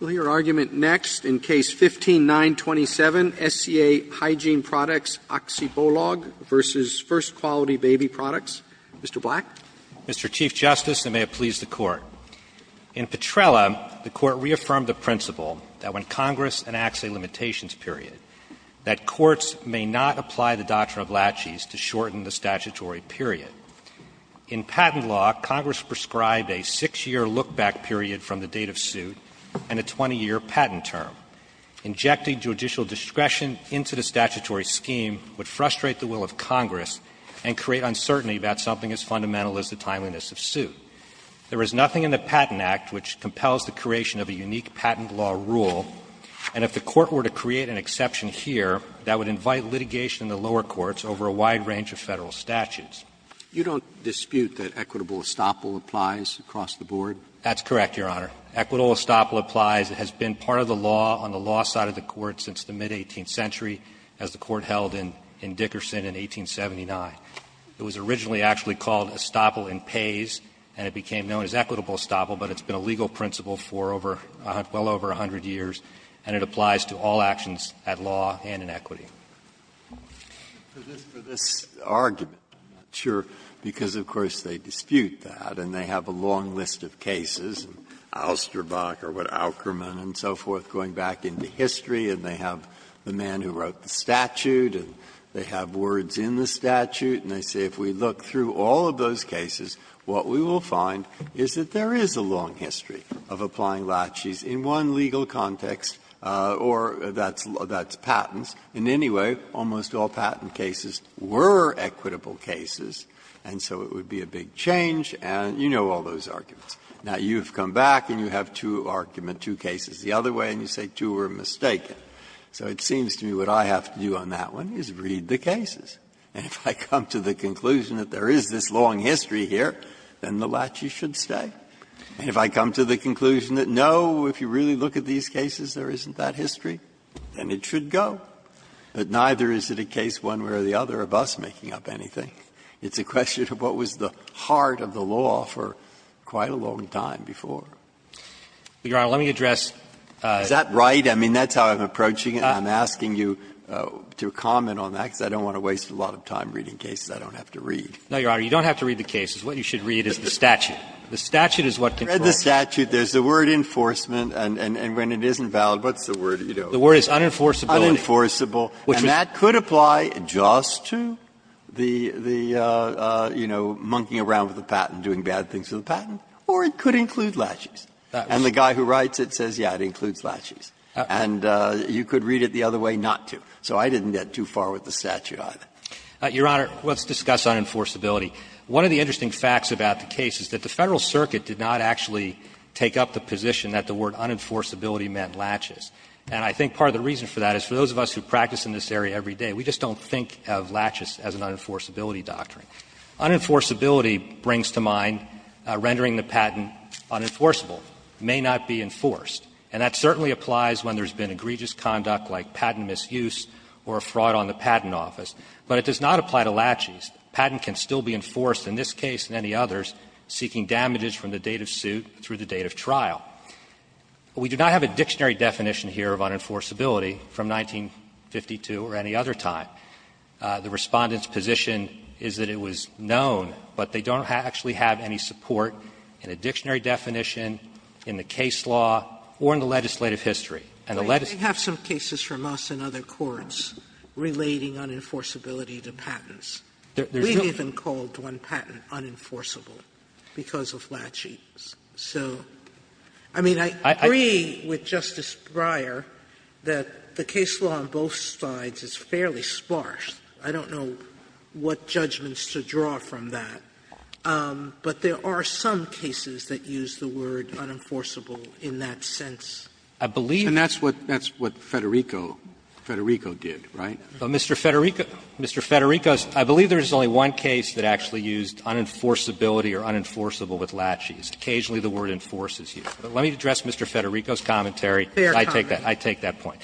Roberts, in case 15-927, SCA Hygiene Products Aktiebolag v. First Quality Baby Products. Mr. Black? Black, Mr. Chief Justice, and may it please the Court. In Petrella, the Court reaffirmed the principle that when Congress enacts a limitations period, that courts may not apply the doctrine of laches to shorten the statutory period. In patent law, Congress prescribed a 6-year look-back period from the date of suit and a 20-year patent term. Injecting judicial discretion into the statutory scheme would frustrate the will of Congress and create uncertainty about something as fundamental as the timeliness of suit. There is nothing in the Patent Act which compels the creation of a unique patent law rule, and if the Court were to create an exception here, that would invite litigation in the lower courts over a wide range of Federal statutes. You don't dispute that equitable estoppel applies across the board? That's correct, Your Honor. Equitable estoppel applies. It has been part of the law on the law side of the Court since the mid-18th century, as the Court held in Dickerson in 1879. It was originally actually called estoppel in pays, and it became known as equitable estoppel, but it's been a legal principle for over a hundred years, and it applies to all actions at law and in equity. Breyer, for this argument, I'm not sure, because of course they dispute that and they have a long list of cases, Austerbach or what, Aukerman, and so forth, going back into history, and they have the man who wrote the statute and they have words in the statute, and they say if we look through all of those cases, what we will find is that there is a long history of applying laches in one legal context, or that's patents. In any way, almost all patent cases were equitable cases, and so it would be a big change, and you know all those arguments. Now, you've come back and you have two arguments, two cases the other way, and you say two were mistaken. So it seems to me what I have to do on that one is read the cases, and if I come to the conclusion that there is this long history here, then the laches should stay. And if I come to the conclusion that, no, if you really look at these cases, there isn't that history, then it should go. But neither is it a case one way or the other of us making up anything. It's a question of what was the heart of the law for quite a long time before. Burschelgaemer, Your Honor, let me address. Breyer, is that right? I mean, that's how I'm approaching it, and I'm asking you to comment on that, because I don't want to waste a lot of time reading cases I don't have to read. Burschelgaemer, No, Your Honor, you don't have to read the cases. What you should read is the statute. The statute is what controls. Breyer, I've read the statute. There's the word enforcement, and when it isn't valid, what's the word you know? Burschelgaemer, The word is unenforceability. Breyer, unenforceable. And that could apply just to the, you know, monkeying around with the patent, doing bad things with the patent, or it could include latches. And the guy who writes it says, yeah, it includes latches. And you could read it the other way not to. So I didn't get too far with the statute either. Burschelgaemer, Your Honor, let's discuss unenforceability. One of the interesting facts about the case is that the Federal Circuit did not actually take up the position that the word unenforceability meant latches. And I think part of the reason for that is for those of us who practice in this area every day, we just don't think of latches as an unenforceability doctrine. Unenforceability brings to mind rendering the patent unenforceable, may not be enforced. And that certainly applies when there's been egregious conduct like patent misuse or a fraud on the patent office. But it does not apply to latches. Patent can still be enforced in this case and any others, seeking damages from the date of suit through the date of trial. We do not have a dictionary definition here of unenforceability from 1952 or any other time. The Respondent's position is that it was known, but they don't actually have any support in a dictionary definition, in the case law, or in the legislative history. And the legislative history is not known. Sotomayor, they have some cases from us and other courts relating unenforceability to patents. We've even called one patent unenforceable because of latches. So, I mean, I agree with Justice Breyer that the case law on both sides is fairly sparse. I don't know what judgments to draw from that. But there are some cases that use the word unenforceable in that sense. I believe that's what Federico did, right? Mr. Federico, I believe there's only one case that actually used unenforceability or unenforceable with latches. Occasionally, the word enforces you. Let me address Mr. Federico's commentary. I take that. I take that point.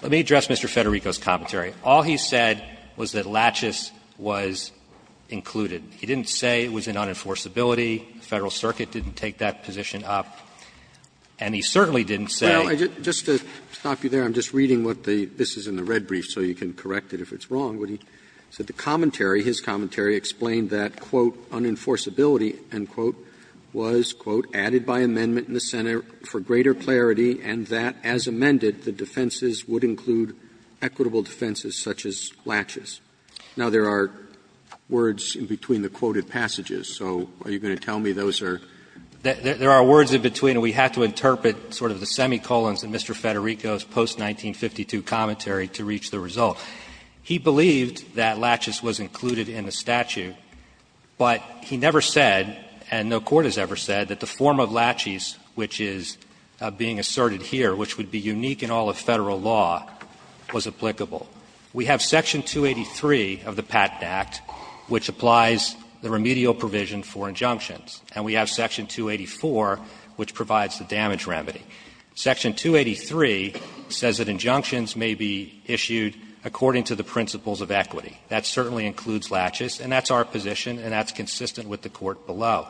Let me address Mr. Federico's commentary. All he said was that latches was included. He didn't say it was an unenforceability. The Federal Circuit didn't take that position up. And he certainly didn't say. Roberts, just to stop you there, I'm just reading what the --" this is in the red brief, so you can correct it if it's wrong. What he said, the commentary, his commentary explained that, quote, unenforceability, end quote, was, quote, added by amendment in the Senate for greater clarity and that, as amended, the defenses would include equitable defenses such as latches. Now, there are words in between the quoted passages, so are you going to tell me those are? There are words in between, and we have to interpret sort of the semicolons in Mr. Federico's post-1952 commentary to reach the result. He believed that latches was included in the statute, but he never said, and no court has ever said, that the form of latches which is being asserted here, which would be unique in all of Federal law, was applicable. We have Section 283 of the Patent Act which applies the remedial provision for injunctions. And we have Section 284 which provides the damage remedy. Section 283 says that injunctions may be issued according to the principles of equity. That certainly includes latches, and that's our position and that's consistent with the court below.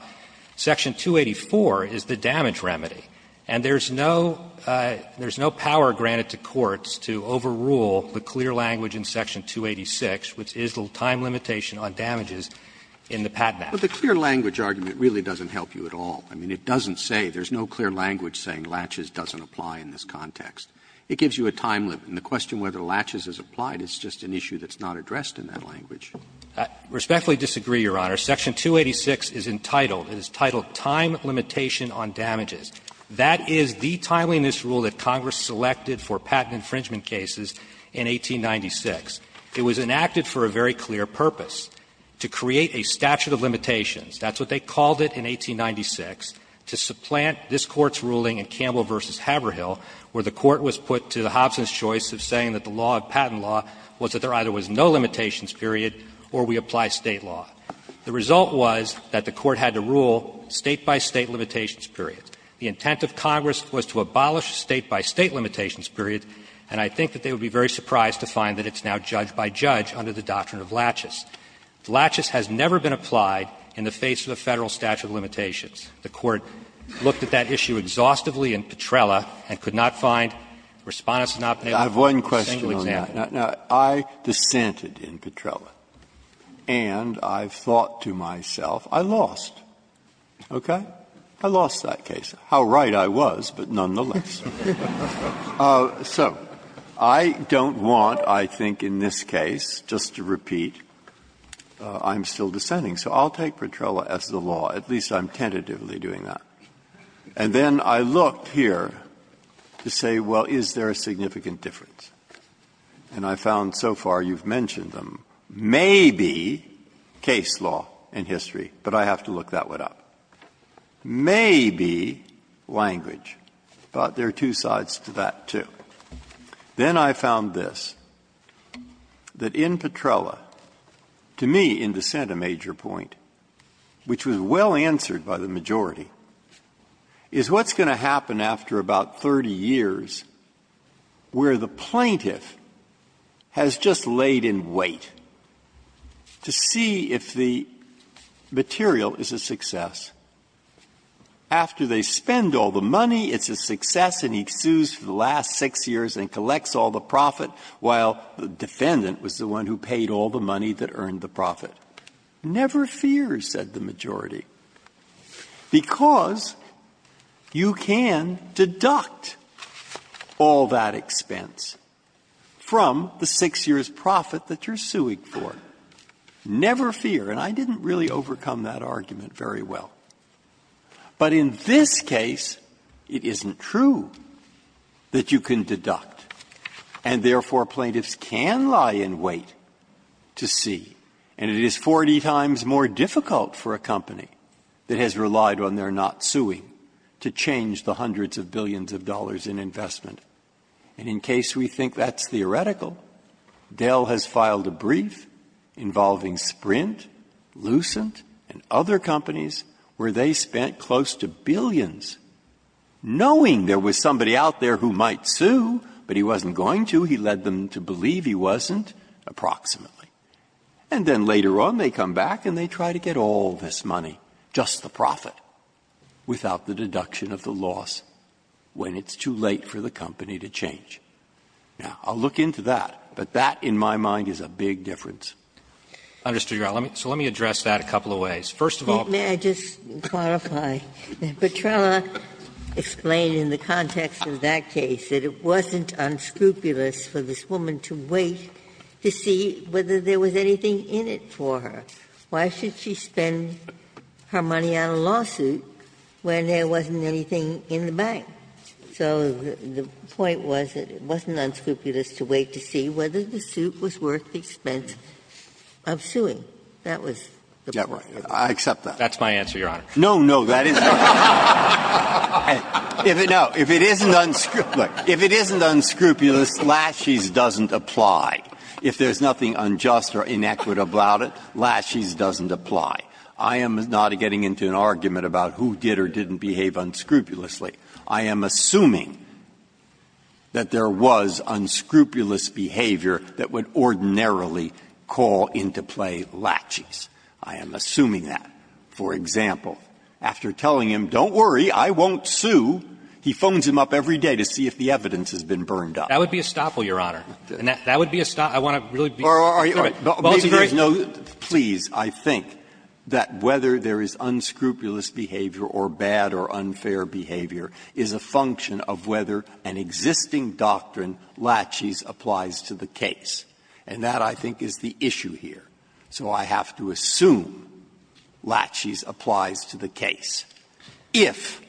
Section 284 is the damage remedy, and there's no power granted to courts to overrule the clear language in Section 286, which is the time limitation on damages in the Patent Act. Roberts, But the clear language argument really doesn't help you at all. I mean, it doesn't say, there's no clear language saying latches doesn't apply in this context. It gives you a time limit. And the question whether latches is applied is just an issue that's not addressed in that language. I respectfully disagree, Your Honor. Section 286 is entitled, it is titled, Time Limitation on Damages. That is the timeliness rule that Congress selected for patent infringement cases in 1896. It was enacted for a very clear purpose, to create a statute of limitations. That's what they called it in 1896, to supplant this Court's ruling in Campbell v. Haverhill, where the Court was put to the Hobson's choice of saying that the law of patent law was that there either was no limitations period or we apply State law. The result was that the Court had to rule State by State limitations period. The intent of Congress was to abolish State by State limitations period, and I think that they would be very surprised to find that it's now judge by judge under the doctrine of latches. Latches has never been applied in the face of a Federal statute of limitations. The Court looked at that issue exhaustively in Petrella and could not find, Respondus has not been able to find a single example. Breyer's I have one question on that. Now, I dissented in Petrella, and I've thought to myself, I lost, okay? I lost that case. How right I was, but nonetheless. So I don't want, I think, in this case, just to repeat, I'm still dissenting. So I'll take Petrella as the law. At least I'm tentatively doing that. And then I looked here to say, well, is there a significant difference? And I found so far you've mentioned them. Maybe case law in history, but I have to look that one up. Maybe language, but there are two sides to that, too. Then I found this, that in Petrella, to me, in dissent, a major point, which was well answered by the majority, is what's going to happen after about 30 years where the plaintiff has just laid in wait to see if the material is a success or not. After they spend all the money, it's a success, and he sues for the last six years and collects all the profit, while the defendant was the one who paid all the money that earned the profit. Never fear, said the majority, because you can deduct all that expense from the six years' profit that you're suing for. Never fear. And I didn't really overcome that argument very well. But in this case, it isn't true that you can deduct, and therefore plaintiffs can lie in wait to see. And it is 40 times more difficult for a company that has relied on their not suing to change the hundreds of billions of dollars in investment. And in case we think that's theoretical, Dell has filed a brief involving Sprint Lucent and other companies where they spent close to billions, knowing there was somebody out there who might sue, but he wasn't going to. He led them to believe he wasn't, approximately. And then later on, they come back and they try to get all this money, just the profit, without the deduction of the loss when it's too late for the company to change. Now, I'll look into that, but that in my mind is a big difference. I understood your argument. So let me address that a couple of ways. First of all, Ginsburg. May I just clarify? Petrella explained in the context of that case that it wasn't unscrupulous for this woman to wait to see whether there was anything in it for her. Why should she spend her money on a lawsuit when there wasn't anything in the bank? So the point was that it wasn't unscrupulous to wait to see whether the suit was worth the expense of suing. That was the point. Breyer. I accept that. That's my answer, Your Honor. No, no. That is not. If it isn't unscrupulous, if it isn't unscrupulous, laches doesn't apply. If there's nothing unjust or inequitable about it, laches doesn't apply. I am not getting into an argument about who did or didn't behave unscrupulously. I am assuming that there was unscrupulous behavior that would ordinarily call into play laches. I am assuming that. For example, after telling him, don't worry, I won't sue, he phones him up every day to see if the evidence has been burned up. That would be a stopple, Your Honor. That would be a stopple. I want to really be clear. Are you all right? Please, I think that whether there is unscrupulous behavior or bad or unfair behavior is a function of whether an existing doctrine, laches, applies to the case. And that, I think, is the issue here. So I have to assume laches applies to the case, if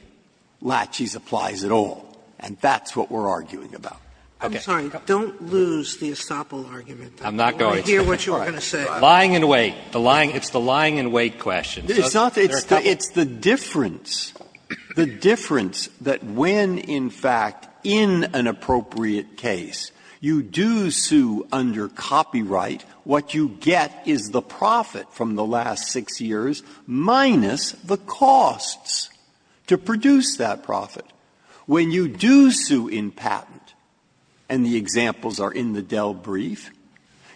laches applies at all. And that's what we're arguing about. Okay. Sotomayor, don't lose the stopple argument. I'm not going to. I hear what you're going to say. Lying in wait. The lying – it's the lying in wait question. It's not. It's the difference. The difference that when, in fact, in an appropriate case, you do sue under copyright, what you get is the profit from the last six years minus the costs to produce that profit. When you do sue in patent, and the examples are in the Dell brief,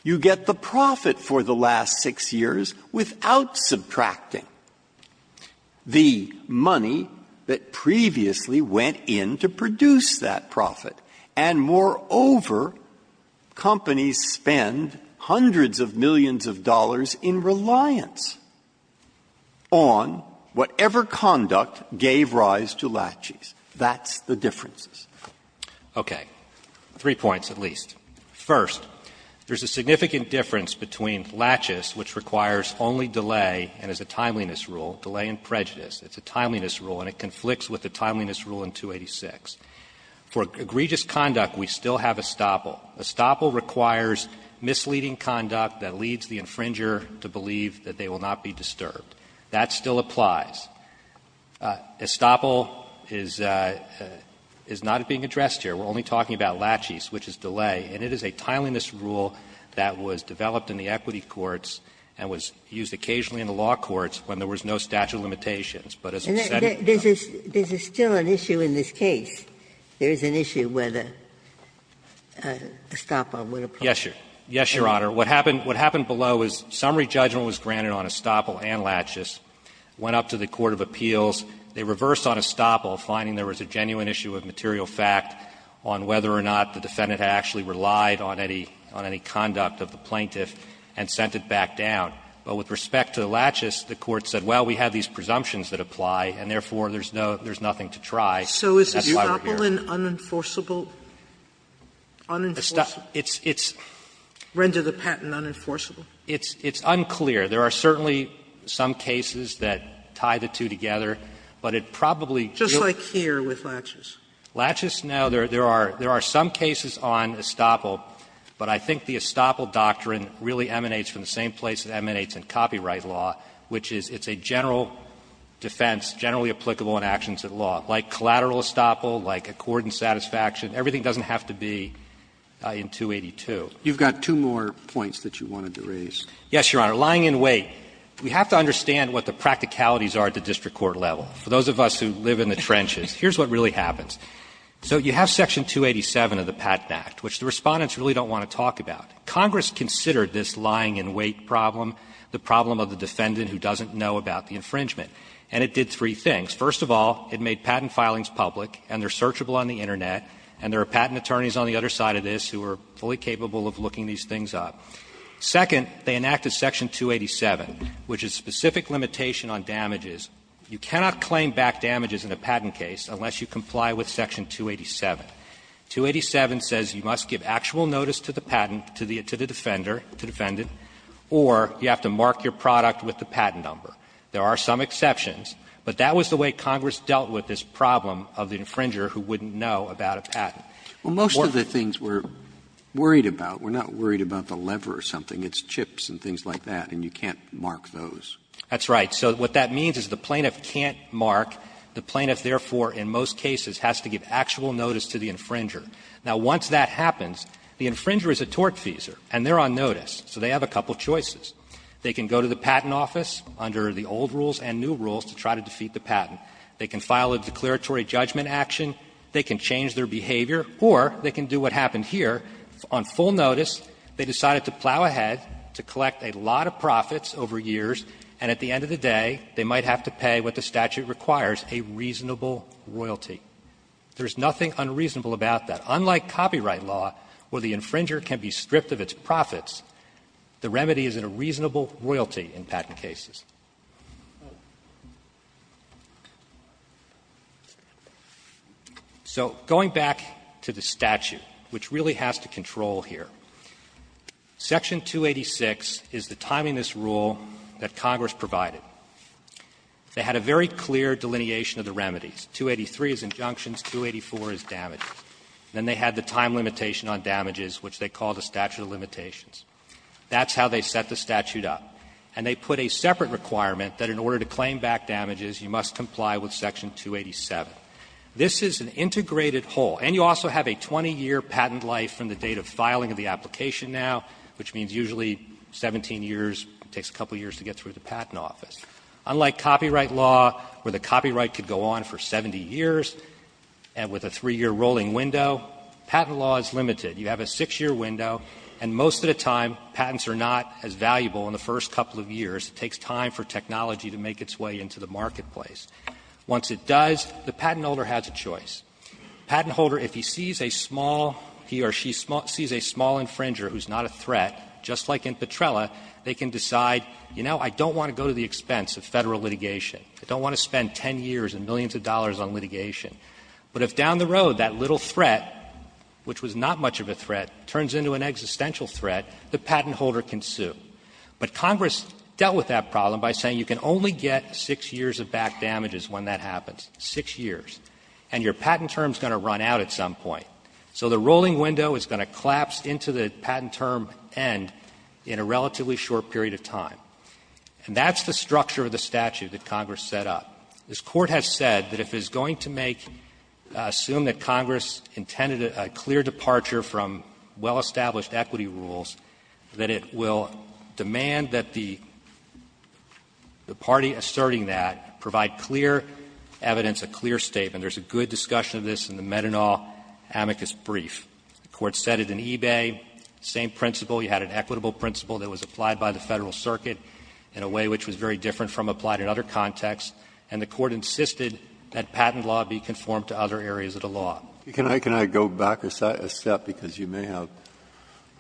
you get the profit for the last six years without subtracting the money that previously went in to produce that profit. And moreover, companies spend hundreds of millions of dollars in reliance on whatever conduct gave rise to laches. That's the differences. Okay. Three points at least. First, there's a significant difference between laches, which requires only delay and is a timeliness rule, delay and prejudice. It's a timeliness rule, and it conflicts with the timeliness rule in 286. For egregious conduct, we still have a stopple. A stopple requires misleading conduct that leads the infringer to believe that they will not be disturbed. That still applies. A stopple is not being addressed here. We're only talking about laches, which is delay, and it is a timeliness rule that was developed in the equity courts and was used occasionally in the law courts when there was no statute of limitations. But as I've said in this case, there is an issue where the stopple would apply. Yes, Your Honor. What happened below is summary judgment was granted on a stopple and laches, went up to the court of appeals, they reversed on a stopple, finding there was a genuine issue of material fact on whether or not the defendant had actually relied on any conduct of the plaintiff, and sent it back down. But with respect to the laches, the court said, well, we have these presumptions that apply, and therefore, there's nothing to try. That's why we're here. Sotomayor, it's unclear. There are certainly some cases that tie the two together, but it probably deals here with laches. Laches, no. There are some cases on a stopple, but I think the stopple doctrine really emanates from the same place it emanates in copyright law, which is it's a general defense, generally applicable in actions at law, like collateral stopple, like accordant satisfaction. Everything doesn't have to be in 282. You've got two more points that you wanted to raise. Yes, Your Honor. Lying in wait. We have to understand what the practicalities are at the district court level. For those of us who live in the trenches, here's what really happens. So you have section 287 of the Patent Act, which the Respondents really don't want to talk about. Congress considered this lying in wait problem the problem of the defendant who doesn't know about the infringement, and it did three things. First of all, it made patent filings public, and they're searchable on the Internet, and there are patent attorneys on the other side of this who are fully capable of looking these things up. Second, they enacted section 287, which is specific limitation on damages. You cannot claim back damages in a patent case unless you comply with section 287. 287 says you must give actual notice to the patent, to the defender, to the defendant, or you have to mark your product with the patent number. There are some exceptions, but that was the way Congress dealt with this problem of the infringer who wouldn't know about a patent. Roberts. Most of the things we're worried about, we're not worried about the lever or something. It's chips and things like that, and you can't mark those. That's right. So what that means is the plaintiff can't mark. The plaintiff, therefore, in most cases, has to give actual notice to the infringer. Now, once that happens, the infringer is a tortfeasor, and they're on notice, so they have a couple choices. They can go to the patent office under the old rules and new rules to try to defeat the patent. They can file a declaratory judgment action. They can change their behavior, or they can do what happened here. On full notice, they decided to plow ahead, to collect a lot of profits over years, and at the end of the day, they might have to pay what the statute requires, a reasonable royalty. There's nothing unreasonable about that. Unlike copyright law, where the infringer can be stripped of its profits, the remedy is in a reasonable royalty in patent cases. So going back to the statute, which really has to control here, Section 286 is the rule that Congress provided. They had a very clear delineation of the remedies. 283 is injunctions, 284 is damages. Then they had the time limitation on damages, which they called a statute of limitations. That's how they set the statute up. And they put a separate requirement that in order to claim back damages, you must comply with Section 287. This is an integrated whole. And you also have a 20-year patent life from the date of filing of the application now, which means usually 17 years, it takes a couple years to get through the patent office. Unlike copyright law, where the copyright could go on for 70 years, and with a 3-year rolling window, patent law is limited. You have a 6-year window, and most of the time, patents are not as valuable in the first couple of years. It takes time for technology to make its way into the marketplace. Once it does, the patent holder has a choice. Patent holder, if he sees a small he or she sees a small infringer who's not a threat, just like in Petrella, they can decide, you know, I don't want to go to the expense of Federal litigation. I don't want to spend 10 years and millions of dollars on litigation. But if down the road, that little threat, which was not much of a threat, turns into an existential threat, the patent holder can sue. But Congress dealt with that problem by saying you can only get 6 years of back damages when that happens, 6 years. And your patent term is going to run out at some point. So the rolling window is going to collapse into the patent term end in a relatively short period of time. And that's the structure of the statute that Congress set up. This Court has said that if it's going to make assume that Congress intended a clear departure from well-established equity rules, that it will demand that the party asserting that provide clear evidence, a clear statement. There's a good discussion of this in the Methanol amicus brief. The Court said it in Ebay, same principle. You had an equitable principle that was applied by the Federal Circuit in a way which was very different from applied in other contexts. And the Court insisted that patent law be conformed to other areas of the law. Breyer, can I go back a step, because you may have,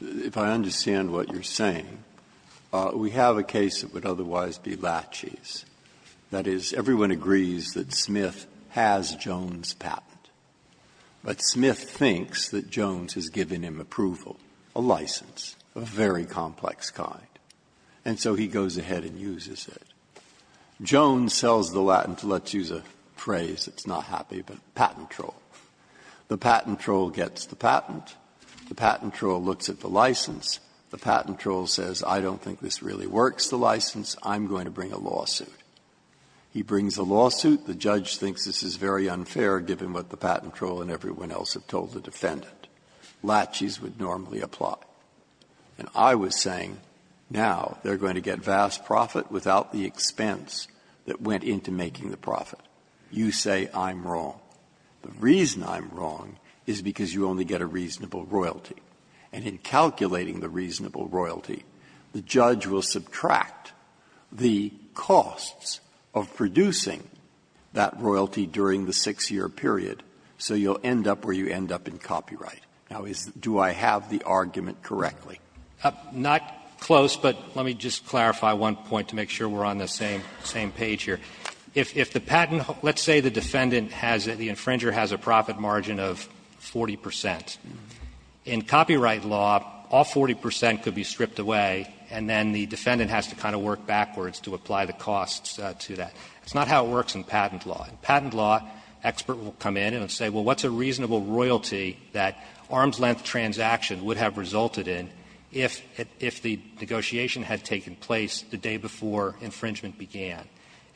if I understand what you're saying, we have a case that would otherwise be Lachey's. That is, everyone agrees that Smith has Jones' patent, but Smith thinks that Jones has given him approval, a license, a very complex kind, and so he goes ahead and uses it. Jones sells the latent, let's use a phrase that's not happy, but patent troll. The patent troll gets the patent, the patent troll looks at the license, the patent troll says, I don't think this really works, the license, I'm going to bring a lawsuit. He brings a lawsuit, the judge thinks this is very unfair, given what the patent troll and everyone else have told the defendant. Lachey's would normally apply. And I was saying, now, they're going to get vast profit without the expense that went into making the profit. You say I'm wrong. The reason I'm wrong is because you only get a reasonable royalty. And in calculating the reasonable royalty, the judge will subtract the costs of producing that royalty during the 6-year period, so you'll end up where you end up in copyright. Now, is the do I have the argument correctly? Banner. Not close, but let me just clarify one point to make sure we're on the same page here. If the patent, let's say the defendant has, the infringer has a profit margin of 40 percent, in copyright law, all 40 percent could be stripped away and then the defendant has to kind of work backwards to apply the costs to that. That's not how it works in patent law. In patent law, expert will come in and say, well, what's a reasonable royalty that arm's-length transaction would have resulted in if the negotiation had taken place the day before infringement began?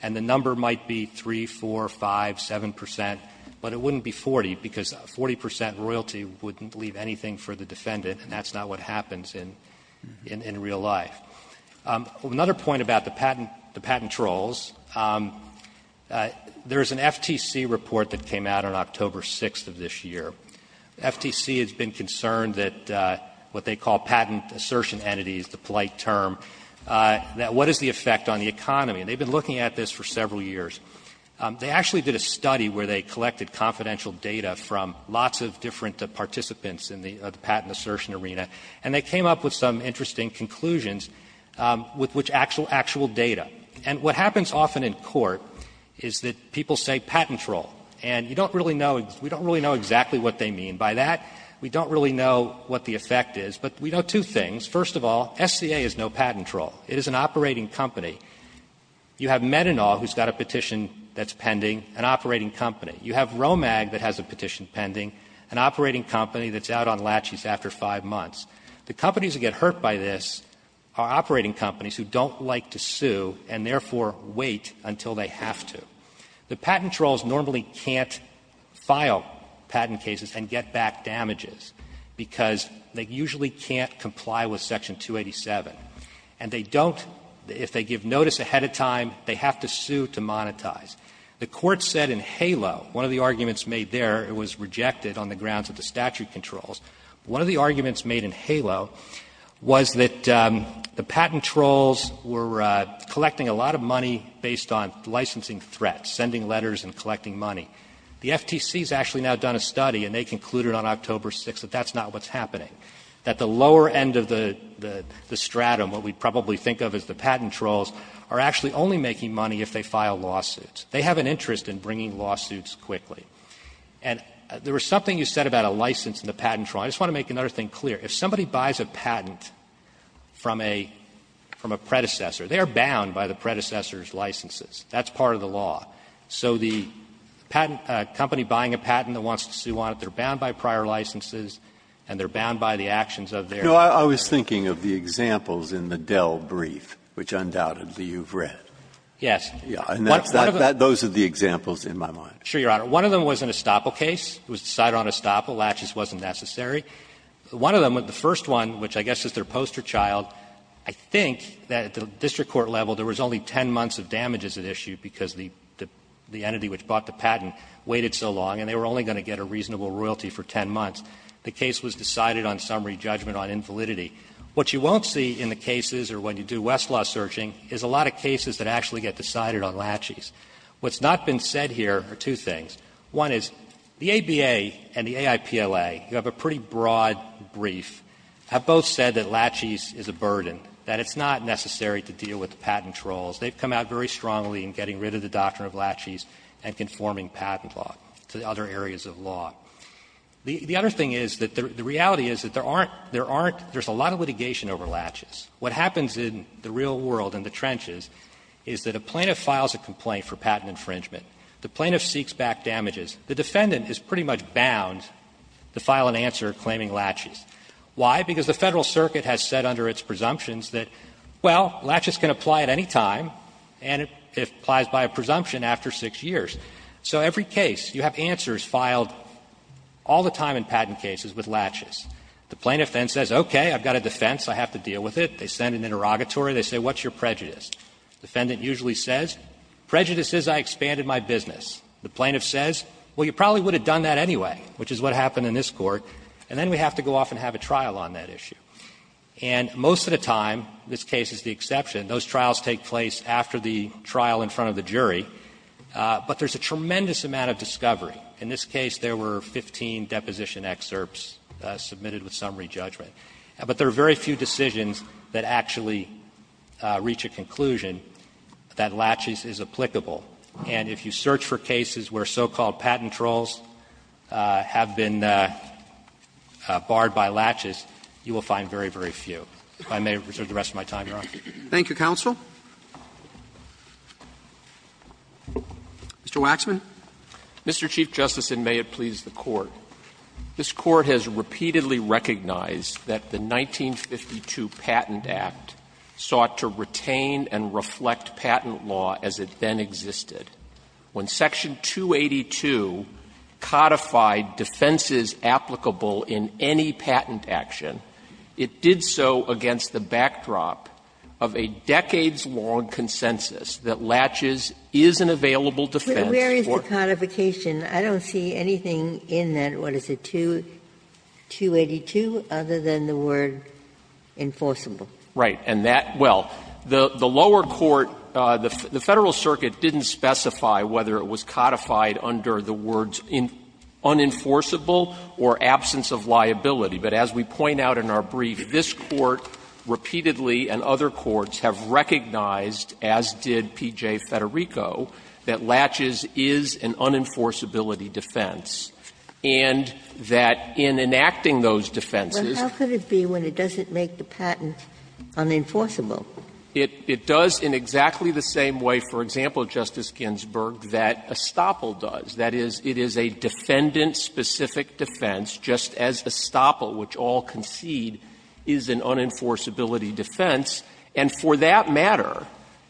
And the number might be 3, 4, 5, 7 percent, but it wouldn't be 40, because 40 percent of the royalty wouldn't leave anything for the defendant, and that's not what happens in real life. Another point about the patent trolls, there's an FTC report that came out on October 6th of this year. FTC has been concerned that what they call patent assertion entities, the polite term, that what is the effect on the economy? And they've been looking at this for several years. They actually did a study where they collected confidential data from lots of different participants in the patent assertion arena, and they came up with some interesting conclusions with which actual data. And what happens often in court is that people say patent troll, and you don't really know, we don't really know exactly what they mean by that. We don't really know what the effect is, but we know two things. First of all, SCA is no patent troll. It is an operating company. You have Metanol, who's got a petition that's pending, an operating company. You have Romag that has a petition pending, an operating company that's out on laches after five months. The companies that get hurt by this are operating companies who don't like to sue and therefore wait until they have to. The patent trolls normally can't file patent cases and get back damages because they usually can't comply with Section 287. And they don't, if they give notice ahead of time, they have to sue to monetize. The Court said in HALO, one of the arguments made there, it was rejected on the grounds of the statute controls, one of the arguments made in HALO was that the patent trolls were collecting a lot of money based on licensing threats, sending letters and collecting money. The FTC has actually now done a study and they concluded on October 6th that that's not what's happening, that the lower end of the stratum, what we probably think of as the patent trolls, are actually only making money if they file lawsuits. They have an interest in bringing lawsuits quickly. And there was something you said about a license and the patent troll. I just want to make another thing clear. If somebody buys a patent from a predecessor, they are bound by the predecessor's licenses. That's part of the law. So the patent company buying a patent that wants to sue on it, they're bound by prior licenses and they're bound by the actions of their predecessors. Breyer's thinking of the examples in the Dell brief, which undoubtedly you've read. Yes. And that's that. Those are the examples in my mind. Sure, Your Honor. One of them was an estoppel case. It was decided on estoppel. Latches wasn't necessary. One of them, the first one, which I guess is their poster child, I think that at the district court level there was only 10 months of damages at issue because the entity which bought the patent waited so long and they were only going to get a reasonable royalty for 10 months. The case was decided on summary judgment on invalidity. What you won't see in the cases or when you do Westlaw searching is a lot of cases that actually get decided on latches. What's not been said here are two things. One is the ABA and the AIPLA, who have a pretty broad brief, have both said that latches is a burden, that it's not necessary to deal with patent trolls. They've come out very strongly in getting rid of the doctrine of latches and conforming patent law to other areas of law. The other thing is that the reality is that there aren't – there's a lot of litigation over latches. What happens in the real world in the trenches is that a plaintiff files a complaint for patent infringement. The plaintiff seeks back damages. The defendant is pretty much bound to file an answer claiming latches. Why? Because the Federal Circuit has said under its presumptions that, well, latches can apply at any time and it applies by a presumption after 6 years. So every case, you have answers filed all the time in patent cases with latches. The plaintiff then says, okay, I've got a defense, I have to deal with it. They send an interrogatory. They say, what's your prejudice? The defendant usually says, prejudice is I expanded my business. The plaintiff says, well, you probably would have done that anyway, which is what happened in this Court. And then we have to go off and have a trial on that issue. And most of the time, this case is the exception, those trials take place after the trial in front of the jury. But there's a tremendous amount of discovery. In this case, there were 15 deposition excerpts submitted with summary judgment. But there are very few decisions that actually reach a conclusion that latches is applicable. And if you search for cases where so-called patent trolls have been barred by latches, you will find very, very few. Roberts. Thank you, counsel. Mr. Waxman. Mr. Chief Justice, and may it please the Court. This Court has repeatedly recognized that the 1952 Patent Act sought to retain and reflect patent law as it then existed. When Section 282 codified defenses applicable in any patent action, it did so against the backdrop of a decades-long consensus that latches is an available defense for. Where is the codification? I don't see anything in that, what is it, 282, other than the word enforceable. Right. And that, well, the lower court, the Federal Circuit didn't specify whether it was codified under the words unenforceable or absence of liability. But as we point out in our brief, this Court repeatedly and other courts have recognized, as did P.J. Federico, that latches is an unenforceability defense, and that in enacting those defenses. But how could it be when it doesn't make the patent unenforceable? It does in exactly the same way, for example, Justice Ginsburg, that estoppel does. That is, it is a defendant-specific defense, just as estoppel, which all concede, is an unenforceability defense. And for that matter,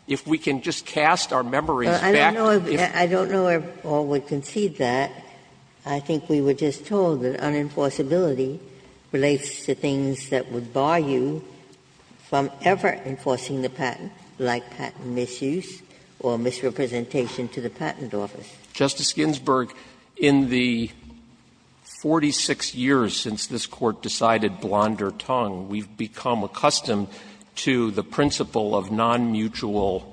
if we can just cast our memories back to if we were to say that it's unenforceable, it's unenforceable. Ginsburg. I don't know if all would concede that. I think we were just told that unenforceability relates to things that would bar you from ever enforcing the patent, like patent misuse or misrepresentation to the patent office. Justice Ginsburg, in the 46 years since this Court decided blonder tongue, we've become accustomed to the principle of nonmutual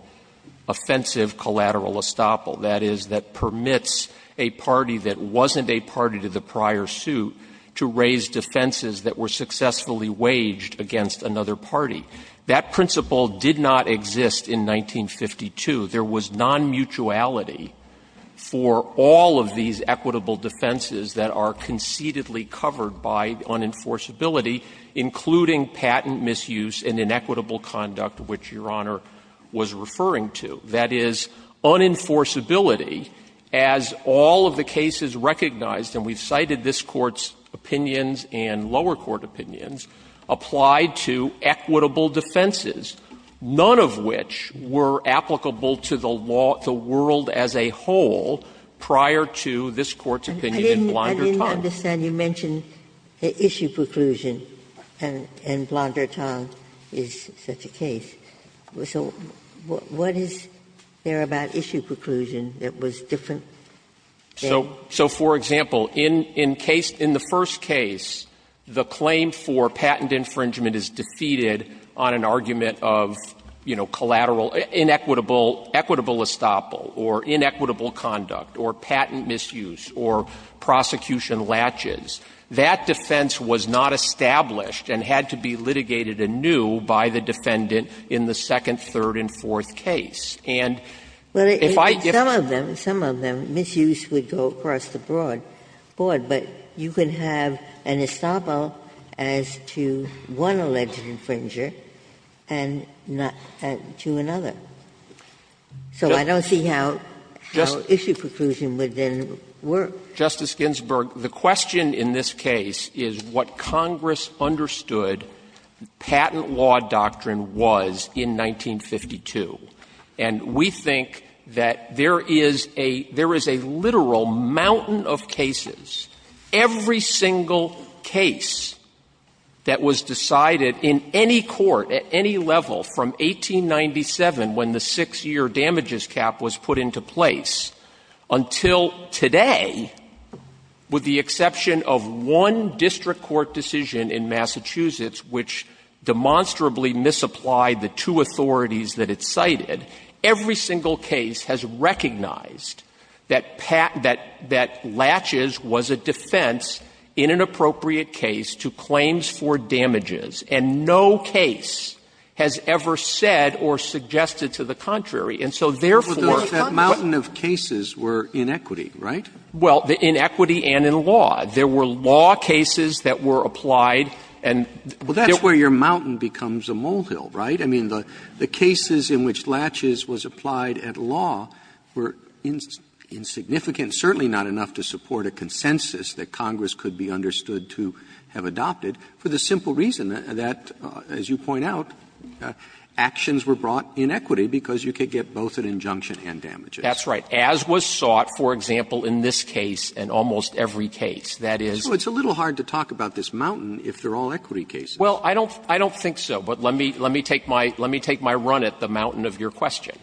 offensive collateral estoppel, that is, that permits a party that wasn't a party to the prior suit to raise defenses that were successfully waged against another party. That principle did not exist in 1952. There was nonmutuality for all of these equitable defenses that are concededly covered by unenforceability, including patent misuse and inequitable conduct, which Your Honor was referring to. That is, unenforceability, as all of the cases recognized, and we've cited this Court's opinions and lower court opinions, applied to equitable defenses, none of which were applicable to the world as a whole prior to this Court's opinion in blonder Ginsburg. I didn't understand. You mentioned the issue preclusion, and blonder tongue is such a case. So what is there about issue preclusion that was different? So, for example, in the first case, the claim for patent infringement is defeated on an argument of, you know, collateral, inequitable, equitable estoppel, or inequitable conduct, or patent misuse, or prosecution latches. That defense was not established and had to be litigated anew by the defendant in the second, third, and fourth case. And if I don't Some of them, some of them, misuse would go across the board, but you can have an estoppel as to one alleged infringer and not to another. So I don't see how issue preclusion would then work. Justice Ginsburg, the question in this case is what Congress understood patent law doctrine was in 1952, and we think that there is a literal mountain of cases, every single case that was decided in any court at any level from 1897, when the 6-year damages cap was put into place, until today, with the exception of one district court decision in Massachusetts, which demonstrably misapplied the two authorities that it cited, every single case has recognized that pat ‑‑ that latches was a defense in an appropriate case to claims for damages, and no case has ever said or suggested to the contrary. And so, therefore ‑‑ But those ‑‑ that mountain of cases were in equity, right? Well, in equity and in law. There were law cases that were applied and ‑‑ Well, that's where your mountain becomes a molehill, right? I mean, the cases in which latches was applied at law were insignificant, certainly not enough to support a consensus that Congress could be understood to have adopted for the simple reason that, as you point out, actions were brought in equity because you could get both an injunction and damages. That's right. As was sought, for example, in this case and almost every case. That is ‑‑ So it's a little hard to talk about this mountain if they're all equity cases. Well, I don't think so, but let me take my run at the mountain of your question.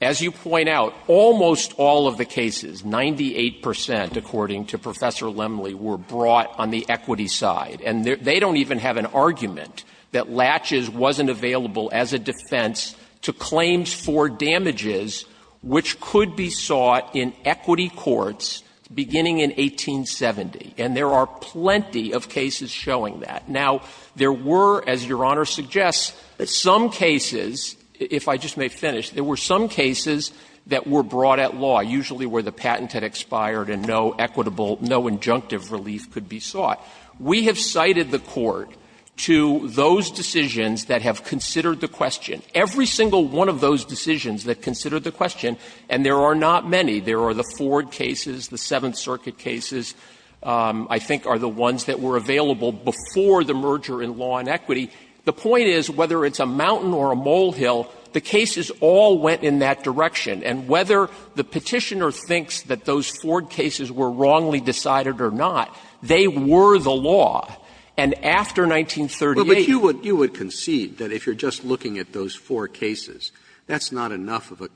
As you point out, almost all of the cases, 98 percent, according to Professor Lemley, were brought on the equity side. And they don't even have an argument that latches wasn't available as a defense to claims for damages which could be sought in equity courts beginning in 1870. And there are plenty of cases showing that. Now, there were, as Your Honor suggests, some cases, if I just may finish, there were some cases that were brought at law, usually where the patent had expired and no equitable, no injunctive relief could be sought. We have cited the Court to those decisions that have considered the question. Every single one of those decisions that considered the question, and there are not many, there are the Ford cases, the Seventh Circuit cases, I think are the ones that were available before the merger in law and equity. The point is, whether it's a mountain or a molehill, the cases all went in that direction. And whether the Petitioner thinks that those Ford cases were wrongly decided or not, they were the law. And after 1938 you would concede that if you're just looking at those four cases, that's not enough of a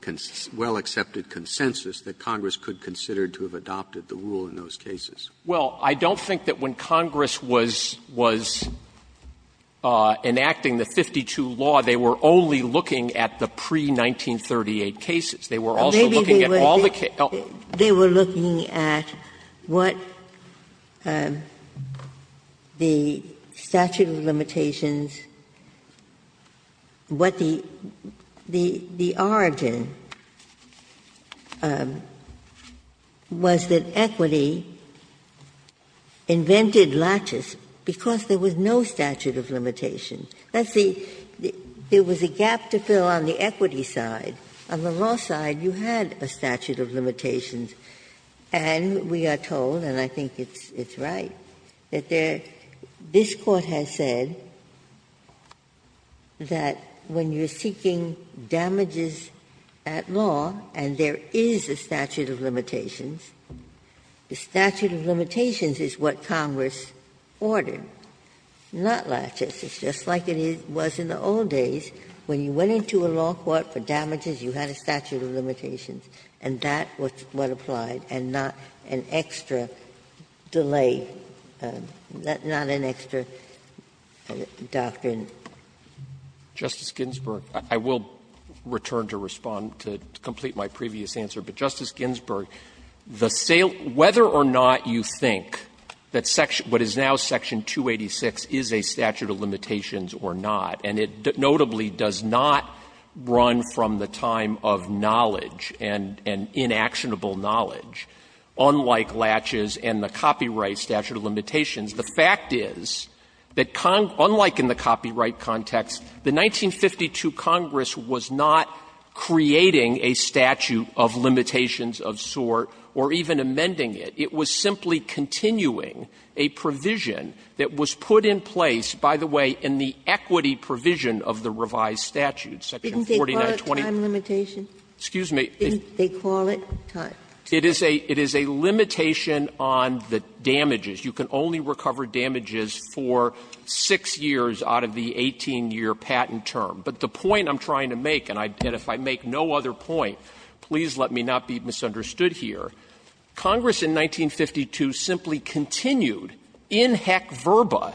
well-accepted consensus that Congress could consider to have adopted the rule in those cases. Well, I don't think that when Congress was enacting the 52 law, they were only looking at the pre-1938 cases. They were also looking at all the cases. They were looking at what the statute of limitations, what the origin was that equity invented latches because there was no statute of limitations. That's the – there was a gap to fill on the equity side. On the law side, you had a statute of limitations, and we are told, and I think it's right, that this Court has said that when you're seeking damages at law, and there is a statute of limitations, the statute of limitations is what Congress ordered, not latches. It's just like it was in the old days when you went into a law court for damages you had a statute of limitations, and that was what applied and not an extra delay – not an extra doctrine. Waxman. Justice Ginsburg, I will return to respond to complete my previous answer, but Justice Ginsburg, the sale – whether or not you think that what is now section 286 is a statute of limitations or not, and it notably does not run from the time of knowledge and inactionable knowledge, unlike latches and the copyright statute of limitations, the fact is that unlike in the copyright context, the 1952 Congress was not creating a statute of limitations of sort or even amending it. It was simply continuing a provision that was put in place, by the way, in the equity provision of the revised statute, section 4920. Ginsburg. Didn't they call it time limitation? Waxman. Excuse me. Didn't they call it time? Waxman. It is a – it is a limitation on the damages. You can only recover damages for 6 years out of the 18-year patent term. But the point I'm trying to make, and I – and if I make no other point, please let me not be misunderstood here. Congress in 1952 simply continued, in heck verba,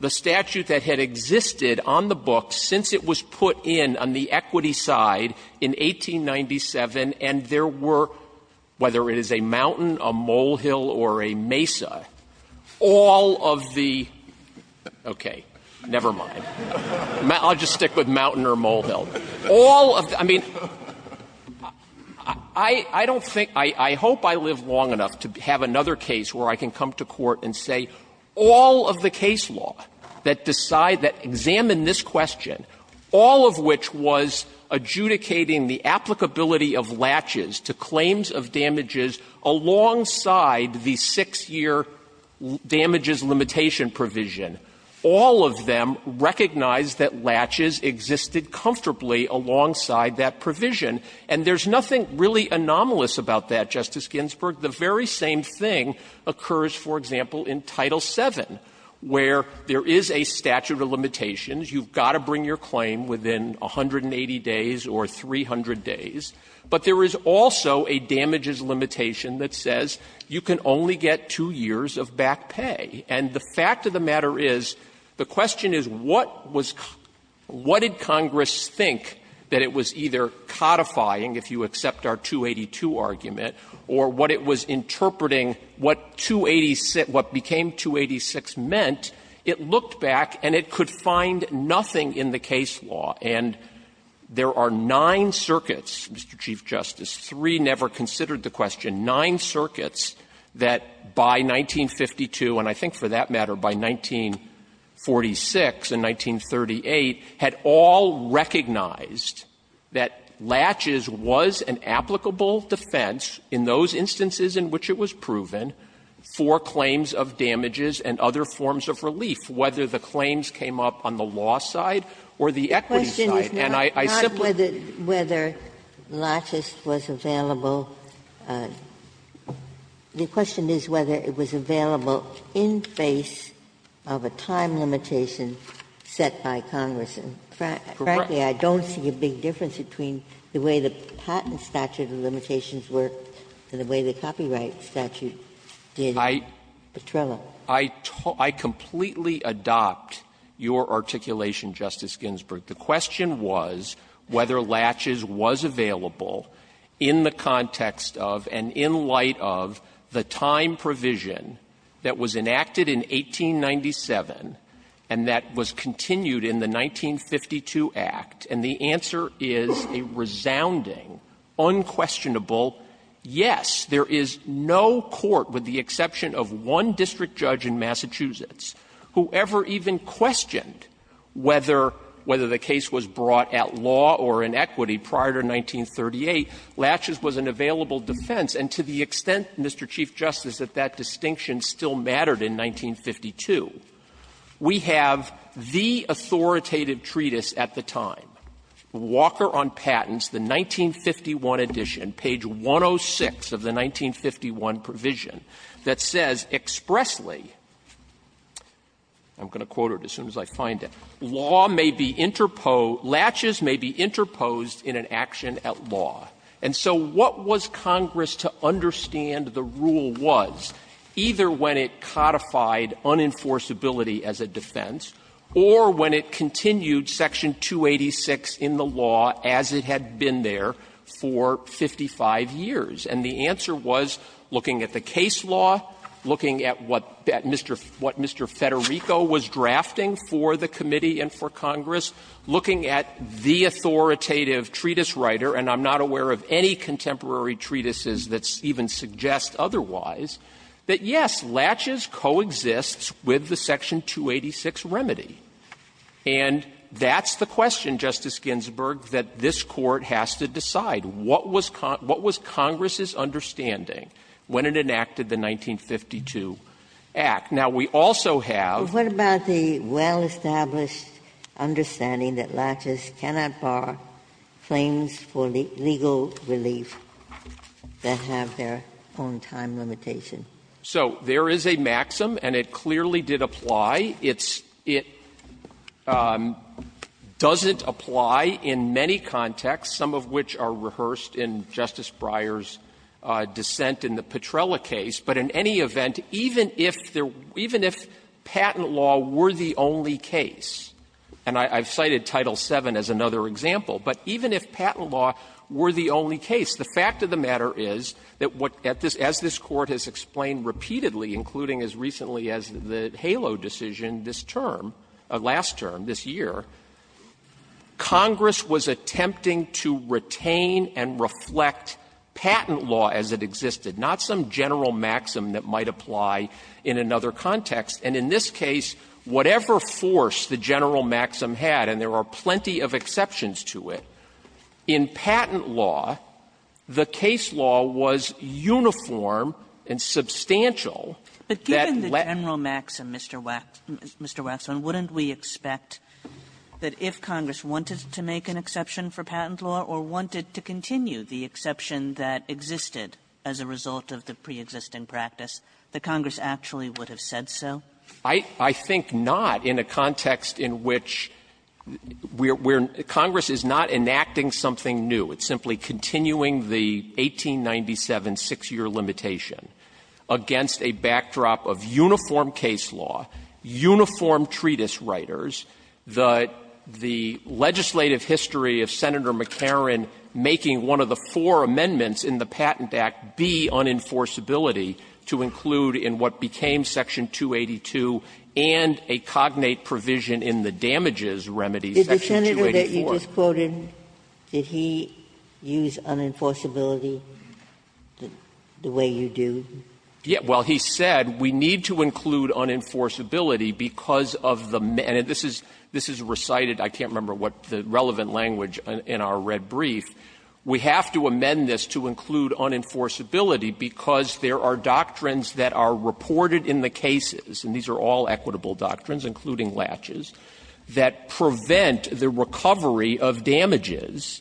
the statute that had existed on the books since it was put in on the equity side in 1897, and there were, whether it is a mountain, a molehill, or a mesa, all of the – okay, never mind. I'll just stick with mountain or molehill. All of the – I mean, I don't think – I hope I live long enough to have another case where I can come to court and say, all of the case law that decide, that examine this question, all of which was adjudicating the applicability of latches to claims of damages alongside the 6-year damages limitation provision, all of them recognized that latches existed comfortably alongside that provision. And there's nothing really anomalous about that, Justice Ginsburg. The very same thing occurs, for example, in Title VII, where there is a statute of limitations. You've got to bring your claim within 180 days or 300 days. But there is also a damages limitation that says you can only get 2 years of back pay. And the fact of the matter is, the question is, what was – what did Congress think that it was either codifying, if you accept our 282 argument, or what it was interpreting what 286 – what became 286 meant, it looked back and it could find nothing in the case law. And there are nine circuits, Mr. Chief Justice, three never considered the question, nine circuits that by 1952, and I think for that matter, by 1946 and 1938, had all recognized that latches was an applicable defense in those instances in which it was proven for claims of damages and other forms of relief, whether the claims came up on the law side or the equity side. And I simply – Ginsburg Not whether latches was available. The question is whether it was available in face of a time limitation set by Congress. And frankly, I don't see a big difference between the way the patent statute of limitations worked and the way the copyright statute did. Petrella. Waxman I completely adopt your articulation, Justice Ginsburg. The question was whether latches was available in the context of and in light of the time provision that was enacted in 1897 and that was continued in the 1952 Act. And the answer is a resounding, unquestionable yes. There is no court, with the exception of one district judge in Massachusetts, who ever even questioned whether the case was brought at law or in equity prior to 1938, latches was an available defense. And to the extent, Mr. Chief Justice, that that distinction still mattered in 1952, we have the authoritative treatise at the time, Walker on Patents, the 1951 edition, page 106 of the 1951 provision, that says expressly, I'm going to quote it as soon as I find it, law may be interposed, latches may be interposed in an action at law. And so what was Congress to understand the rule was, either when it codified unenforceability as a defense or when it continued Section 286 in the law as it had been there for 55 years. And the answer was, looking at the case law, looking at what Mr. Federico was drafting for the committee and for Congress, looking at the authoritative treatise writer, and I'm not aware of any contemporary treatises that even suggest otherwise, that, yes, latches coexists with the Section 286 remedy. And that's the question, Justice Ginsburg, that this Court has to decide. What was Congress's understanding when it enacted the 1952 Act? Now, we also have the law. Ginsburg. But what about the well-established understanding that latches cannot bar claims for legal relief that have their own time limitation? So there is a maxim, and it clearly did apply. It's — it doesn't apply in many contexts, some of which are rehearsed in Justice Breyer's dissent in the Petrella case. But in any event, even if there — even if patent law were the only case, and I've cited Title VII as another example, but even if patent law were the only case, the fact of the matter is that what — as this Court has explained repeatedly, including as recently as the HALO decision, this term, last term, this year, Congress was attempting to retain and reflect patent law as it existed, not some general maxim that might apply in another context. And in this case, whatever force the general maxim had, and there are plenty of exceptions to it, in patent law, the case law was uniform and substantial that let — Kagan But given the general maxim, Mr. Waxman, wouldn't we expect that if Congress wanted to make an exception for patent law or wanted to continue the exception that existed as a result of the preexisting practice, that Congress actually would have said so? Waxman I think not in a context in which we're — Congress is not enacting something new. It's simply continuing the 1897 6-year limitation against a backdrop of uniform case law, uniform treatise writers, the legislative history of Senator McCarran making one of the four amendments in the Patent Act be on enforceability to include in what became Section 282 and a cognate provision in the damages remedy, Section 284. Ginsburg Did the senator that you just quoted, did he use unenforceability the way you do? Waxman Well, he said we need to include unenforceability because of the — and this is recited, I can't remember what the relevant language in our red brief. We have to amend this to include unenforceability because there are doctrines that are reported in the cases, and these are all equitable doctrines, including laches, that prevent the recovery of damages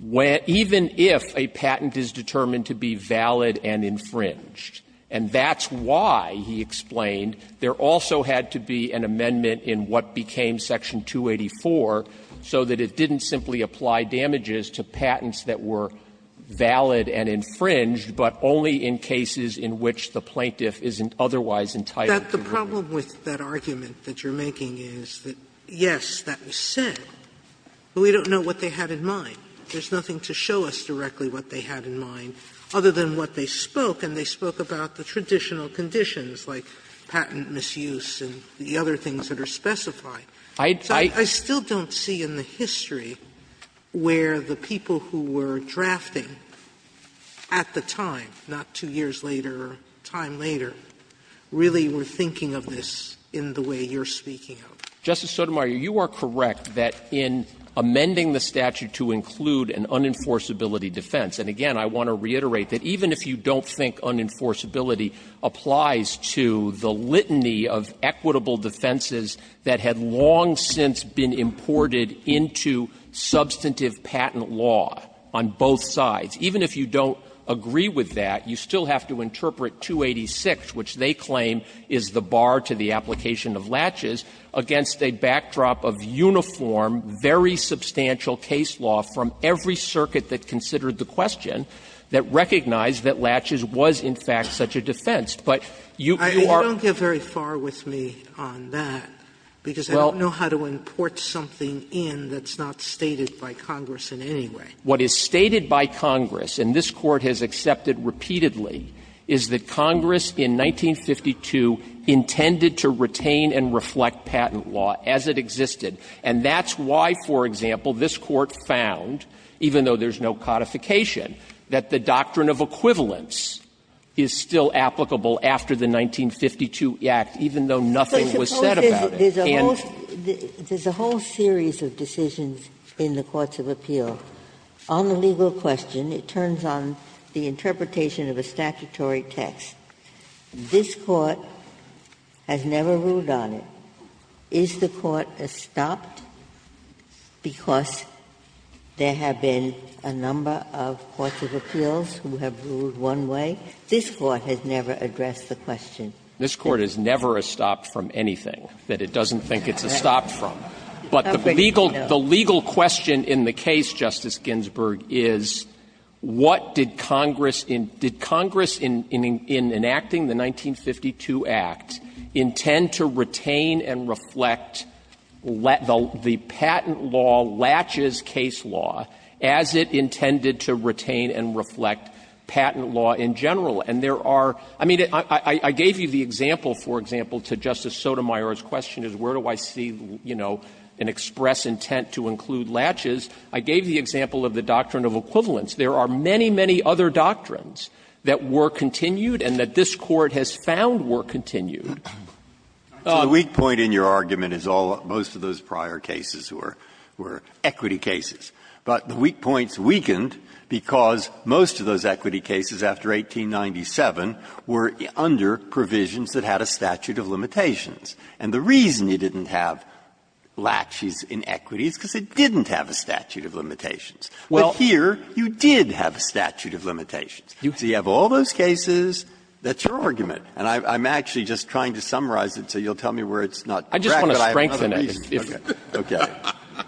when — even if a patent is determined to be valid and infringed. And that's why, he explained, there also had to be an amendment in what became Section 284, so that it didn't simply apply damages to patents that were valid and infringed, but only in cases in which the plaintiff isn't otherwise entitled to remedy. Sotomayor The problem with that argument that you're making is that, yes, that was said, but we don't know what they had in mind. There's nothing to show us directly what they had in mind, other than what they spoke, and they spoke about the traditional conditions like patent misuse and the other things that are specified. I still don't see in the history where the people who were drafting at the time, not two years later or a time later, really were thinking of this in the way you're speaking of. Waxman Justice Sotomayor, you are correct that in amending the statute to include an unenforceability defense, and again, I want to reiterate that even if you don't think unenforceability applies to the litany of equitable defenses that had long since been imported into substantive patent law on both sides, even if you don't agree with that, you still have to interpret 286, which they claim is the bar to the application of laches, against a backdrop of uniform, very substantial case law from every circuit that considered the question, that recognized that laches was, in fact, such a defense. But you are -- Sotomayor You don't get very far with me on that, because I don't know how to import something in that's not stated by Congress in any way. Waxman What is stated by Congress, and this Court has accepted repeatedly, is that Congress in 1952 intended to retain and reflect patent law as it existed, and that's why, for example, this Court found, even though there's no codification, that the doctrine of equivalence is still applicable after the 1952 Act, even though nothing was said And -- Ginsburg But suppose there's a whole series of decisions in the courts of appeal. On the legal question, it turns on the interpretation of a statutory text. This Court has never ruled on it. Is the Court estopped because there have been a number of courts of appeals who have ruled one way? This Court has never addressed the question. Waxman This Court is never estopped from anything that it doesn't think it's estopped from. But the legal question in the case, Justice Ginsburg, is what did Congress in – did the patent law latches case law as it intended to retain and reflect patent law in general? And there are – I mean, I gave you the example, for example, to Justice Sotomayor's question, is where do I see, you know, an express intent to include latches. I gave the example of the doctrine of equivalence. There are many, many other doctrines that were continued and that this Court has found were continued. Breyer The weak point in your argument is all – most of those prior cases were – were equity cases. But the weak point's weakened because most of those equity cases after 1897 were under provisions that had a statute of limitations. And the reason it didn't have latches in equity is because it didn't have a statute of limitations. But here, you did have a statute of limitations. So you have all those cases, that's your argument. And I'm actually just trying to summarize it so you'll tell me where it's not correct. Waxman I just want to strengthen it. Breyer Okay.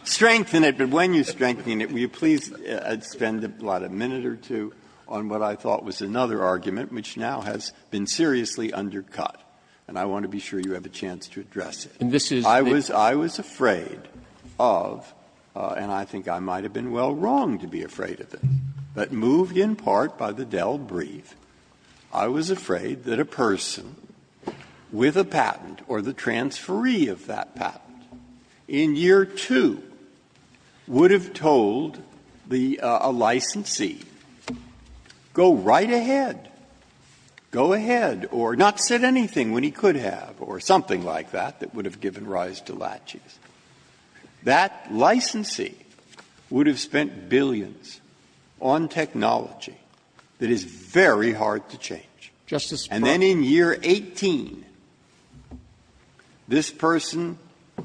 Strengthen it, but when you strengthen it, will you please spend a minute or two on what I thought was another argument, which now has been seriously undercut. And I want to be sure you have a chance to address it. Waxman And this is the – Breyer I was afraid of, and I think I might have been well wrong to be afraid of it, but moved in part by the Dell brief, I was afraid that a person with a patent or the transferee of that patent in year two would have told the – a licensee, go right ahead, go ahead, or not said anything when he could have, or something like that, that would have given rise to latches. That licensee would have spent billions on technology that is very hard to change. Waxman Justice Breyer. Breyer And then in year 18, this person,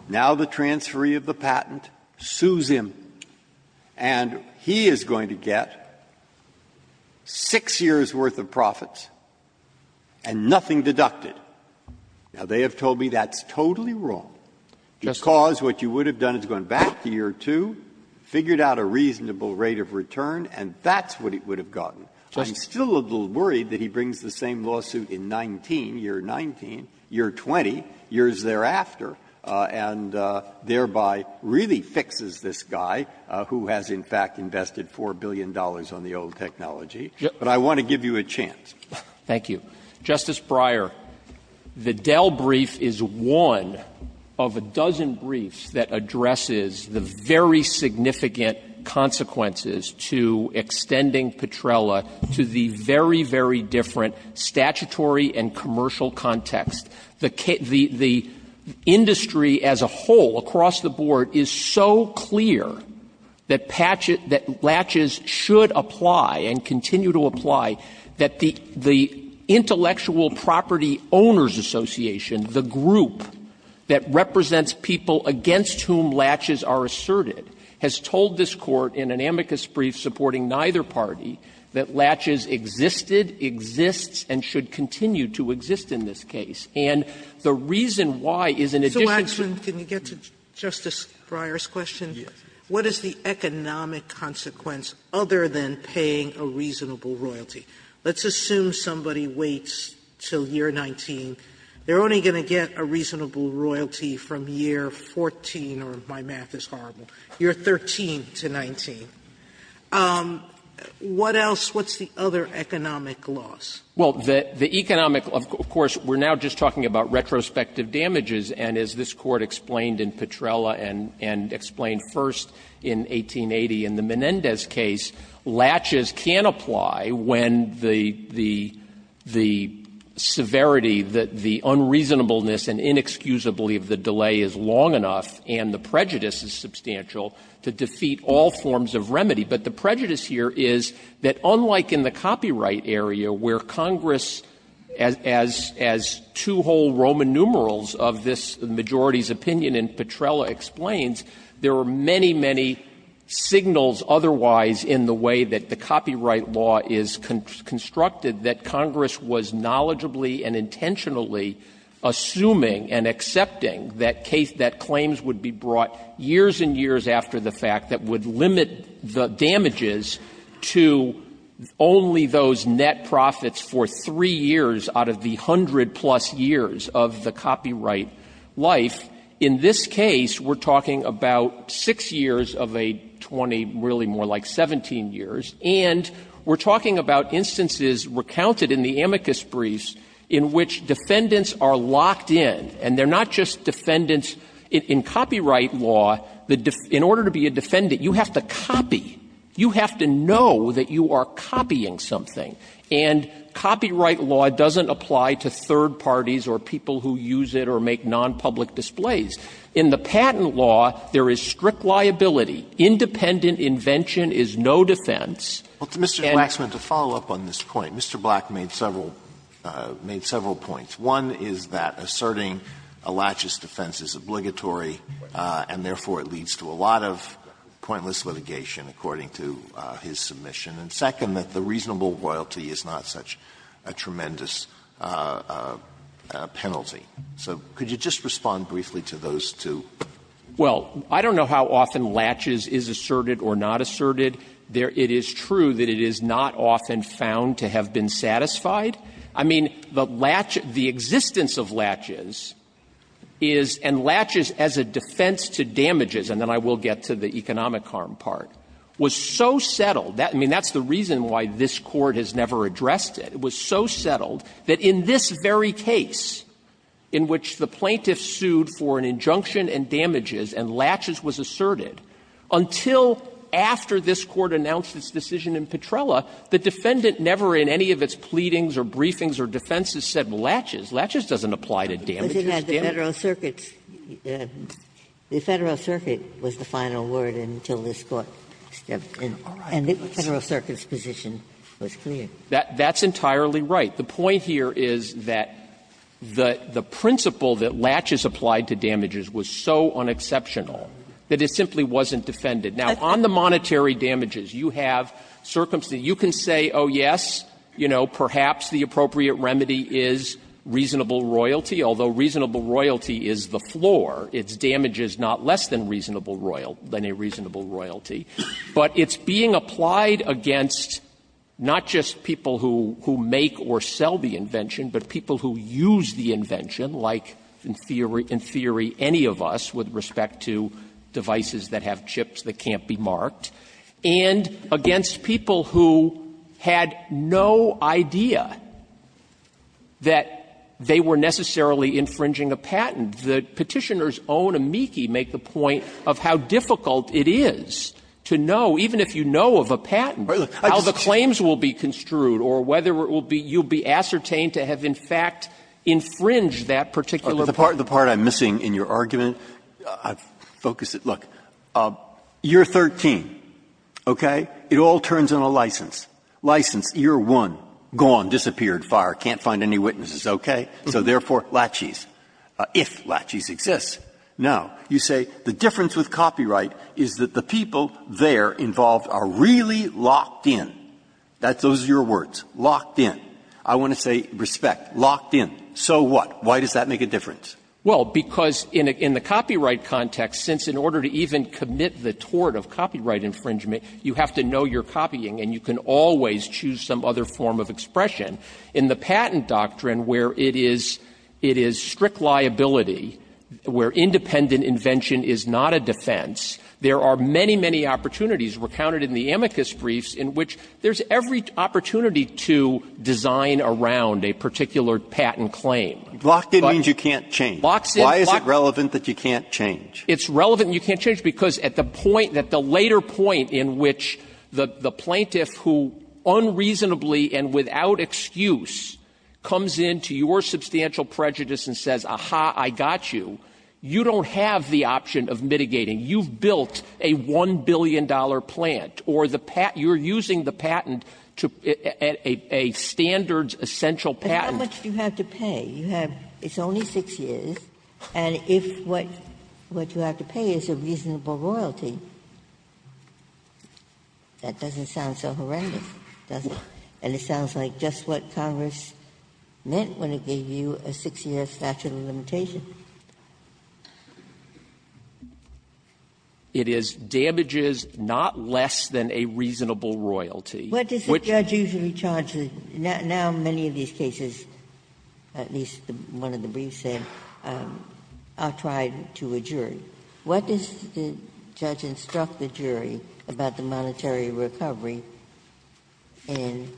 now the transferee of the patent, sues him, and he is going to get 6 years' worth of profits and nothing deducted. Waxman Justice Breyer. Breyer Because what you would have done is gone back to year two, figured out a reasonable rate of return, and that's what it would have gotten. I'm still a little worried that he brings the same lawsuit in 19, year 19, year 20, years thereafter, and thereby really fixes this guy who has, in fact, invested $4 billion on the old technology. But I want to give you a chance. Waxman Thank you. Justice Breyer, the Dell brief is one of a dozen briefs that addresses the very significant consequences to extending Petrella to the very, very different statutory and commercial context. The industry as a whole, across the board, is so clear that patches, that latches should apply and continue to apply, that the Intellectual Property Owners Association, the group that represents people against whom latches are asserted, has told this Court in an amicus brief supporting neither party that latches existed, exists, and should continue to exist in this case. And the reason why is in addition to the Sotomayor So, Waxman, can you get to Justice Breyer's question? Waxman Yes. Sotomayor What is the economic consequence other than paying a reasonable royalty? Let's assume somebody waits until year 19. They're only going to get a reasonable royalty from year 14, or my math is horrible, year 13 to 19. What else? What's the other economic loss? Waxman Well, the economic, of course, we're now just talking about retrospective damages, and as this Court explained in Petrella and explained first in 1880 in the Menendez case, latches can apply when the severity, the unreasonableness and inexcusability of the delay is long enough, and the prejudice is substantial to defeat all forms of remedy. But the prejudice here is that unlike in the copyright area where Congress, as two whole Roman numerals of this majority's opinion in Petrella explains, there are many, many signals otherwise in the way that the copyright law is constructed that Congress was knowledgeably and intentionally assuming and accepting that claims would be brought years and years after the fact that would limit the damages to only those net profits for three years out of the hundred-plus years of the copyright life, in this case we're talking about six years of a 20, really more like 17 years, and we're talking about instances recounted in the amicus briefs in which defendants are locked in. And they're not just defendants in copyright law. In order to be a defendant, you have to copy. You have to know that you are copying something. And copyright law doesn't apply to third parties or people who use it or make nonpublic displays. In the patent law, there is strict liability. Independent invention is no defense. And the reason that the patent law is not a defense is because it's not a defense. Alitoson, to follow up on this point, Mr. Black made several points. One is that asserting a laches defense is obligatory, and therefore it leads to a lot of pointless litigation according to his submission. And second, that the reasonable royalty is not such a tremendous penalty. So could you just respond briefly to those two? Well, I don't know how often laches is asserted or not asserted. It is true that it is not often found to have been satisfied. I mean, the laches, the existence of laches is and laches as a defense to damages, and then I will get to the economic harm part, was so settled that, I mean, that's the reason why this Court has never addressed it. It was so settled that in this very case, in which the plaintiff sued for an injunction and damages and laches was asserted, until after this Court announced its decision in Petrella, the defendant never in any of its pleadings or briefings or defenses said laches. Laches doesn't apply to damages, does it? The Federal Circuit was the final word until this Court stepped in. And the Federal Circuit's position was clear. That's entirely right. The point here is that the principle that laches applied to damages was so unexceptional that it simply wasn't defended. Now, on the monetary damages, you have circumstances. You can say, oh, yes, you know, perhaps the appropriate remedy is reasonable royalty, although reasonable royalty is the floor. Its damage is not less than reasonable royalty, than a reasonable royalty, but it's being applied against not just people who make or sell the invention, but people who use the invention, like, in theory, any of us with respect to devices that have chips that can't be marked, and against people who had no idea that they were necessarily infringing a patent. The Petitioner's own amici make the point of how difficult it is to know, even if you know of a patent, how the claims will be construed, or whether it will be you'll be ascertained to have, in fact, infringed that particular part. Breyer. The part I'm missing in your argument, I've focused it. Look. Year 13, okay? It all turns on a license. License, year 1, gone, disappeared, fired, can't find any witnesses, okay? So therefore, laches, if laches exists. Now, you say the difference with copyright is that the people there involved are really locked in. That's those are your words, locked in. I want to say respect, locked in. So what? Why does that make a difference? Well, because in the copyright context, since in order to even commit the tort of copyright infringement, you have to know you're copying, and you can always choose some other form of expression. In the patent doctrine, where it is strict liability, where independent invention is not a defense, there are many, many opportunities recounted in the amicus briefs in which there's every opportunity to design around a particular patent claim. Locked in means you can't change. Why is it relevant that you can't change? It's relevant you can't change because at the point, at the later point in which the plaintiff who unreasonably and without excuse comes in to your substantial prejudice and says, aha, I got you, you don't have the option of mitigating. You've built a $1 billion plant, or the patent you're using the patent to at a standard essential patent. Ginsburg. How much do you have to pay? You have only 6 years, and if what you have to pay is a reasonable royalty, that doesn't sound so horrendous, does it? And it sounds like just what Congress meant when it gave you a 6-year statute of limitation. It is damages not less than a reasonable royalty. What does the judge usually charge? Now many of these cases, at least one of the briefs there, are tried to a jury. What does the judge instruct the jury about the monetary recovery in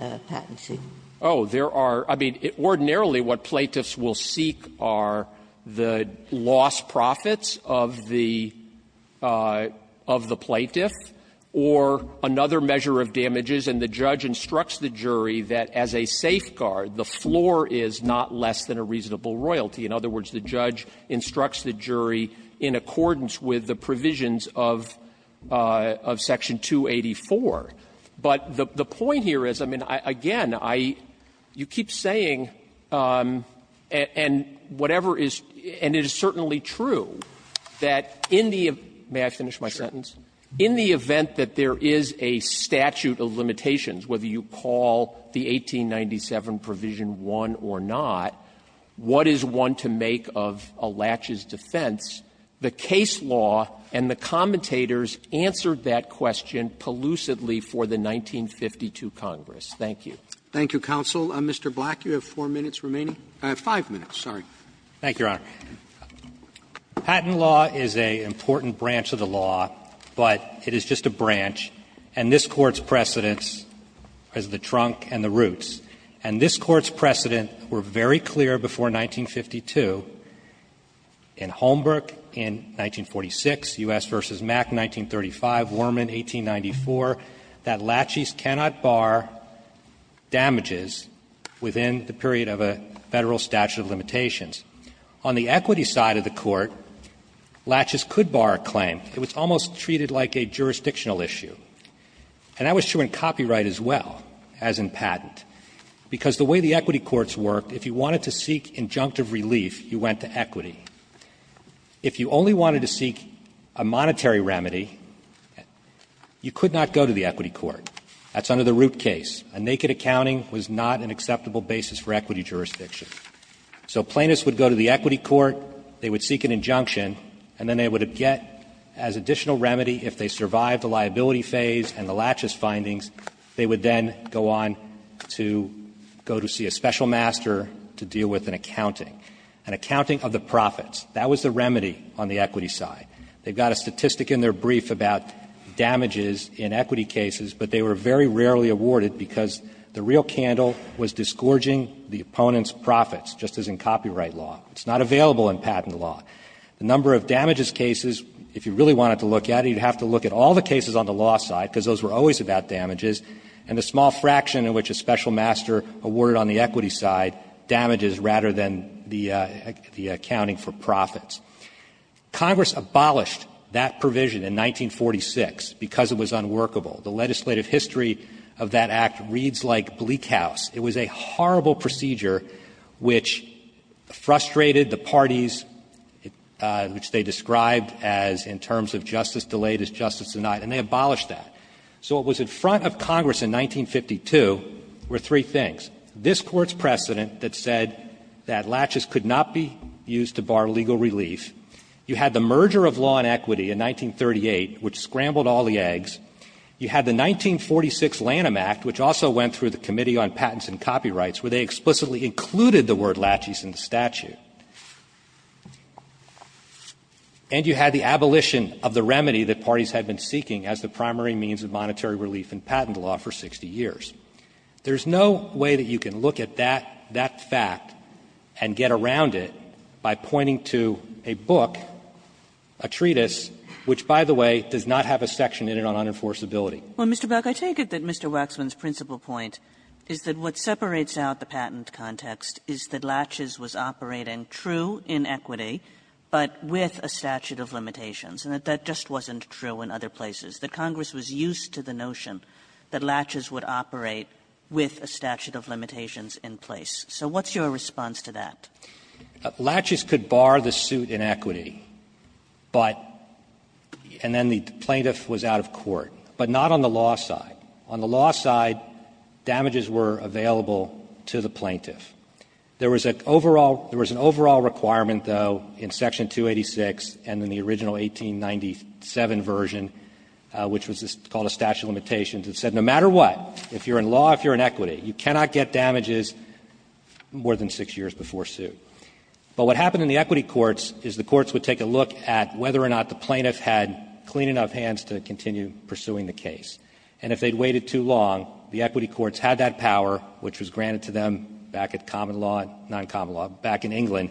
a patency? Oh, there are – I mean, ordinarily what plaintiffs will seek are the lost profits of the plaintiff or another measure of damages, and the judge instructs the jury that as a safeguard, the floor is not less than a reasonable royalty. In other words, the judge instructs the jury in accordance with the provisions of Section 284. But the point here is, I mean, again, I – you keep saying, and whatever is – and it is certainly true that in the – may I finish my sentence? In the event that there is a statute of limitations, whether you call the 1897 Provision 1 or not, what is one to make of a latch's defense? The case law and the commentators answered that question pellucidly for the 1952 Congress. Thank you. Roberts. Thank you, counsel. Mr. Black, you have four minutes remaining. Five minutes, sorry. Black. Thank you, Your Honor. Patent law is an important branch of the law, but it is just a branch, and this Court's precedence is the trunk and the roots. And this Court's precedent were very clear before 1952 in Holmberg, in 1946, U.S. v. Mack, 1935, Worman, 1894, that latches cannot bar damages within the period of a Federal statute of limitations. On the equity side of the Court, latches could bar a claim. It was almost treated like a jurisdictional issue. And that was true in copyright as well, as in patent. Because the way the equity courts worked, if you wanted to seek injunctive relief, you went to equity. If you only wanted to seek a monetary remedy, you could not go to the equity court. That's under the root case. A naked accounting was not an acceptable basis for equity jurisdiction. So plaintiffs would go to the equity court, they would seek an injunction, and then they would get as additional remedy if they survived the liability phase and the latches findings. They would then go on to go to see a special master to deal with an accounting, an accounting of the profits. That was the remedy on the equity side. They've got a statistic in their brief about damages in equity cases, but they were very rarely awarded because the real candle was disgorging the opponent's profits, just as in copyright law. It's not available in patent law. The number of damages cases, if you really wanted to look at it, you'd have to look at all the cases on the law side, because those were always about damages, and the small fraction in which a special master awarded on the equity side damages rather than the accounting for profits. Congress abolished that provision in 1946 because it was unworkable. The legislative history of that Act reads like bleak house. It was a horrible procedure which frustrated the parties, which they described as in terms of justice delayed is justice denied, and they abolished that. So what was in front of Congress in 1952 were three things. This Court's precedent that said that latches could not be used to bar legal relief. You had the merger of law and equity in 1938, which scrambled all the eggs. You had the 1946 Lanham Act, which also went through the Committee on Patents and Copyrights, where they explicitly included the word latches in the statute. And you had the abolition of the remedy that parties had been seeking as the primary means of monetary relief in patent law for 60 years. There's no way that you can look at that fact and get around it by pointing to a book, a treatise, which, by the way, does not have a section in it on unenforceability. Kagan. Kagan. Kagan. Kagan. Kagan. Kagan. Kagan. Kagan. Kagan. Kagan. Kagan. Kagan. Kagan. Kagan, true in equity, but with a statute of limitations. And that just wasn't true in other places. The Congress was used to the notion that latches would operate with a statute of limitations in place. So what's your response to that? Latches could bar the suit in equity, but the plaintiff was out of court, but not on the law side. On the law side, damages were available to the plaintiff. There was an overall requirement, though, in Section 286 and in the original 1897 version, which was called a statute of limitations, that said no matter what, if you're in law, if you're in equity, you cannot get damages more than 6 years before suit. But what happened in the equity courts is the courts would take a look at whether or not the plaintiff had clean enough hands to continue pursuing the case. And if they'd waited too long, the equity courts had that power, which was granted to them back at common law, not common law, back in England,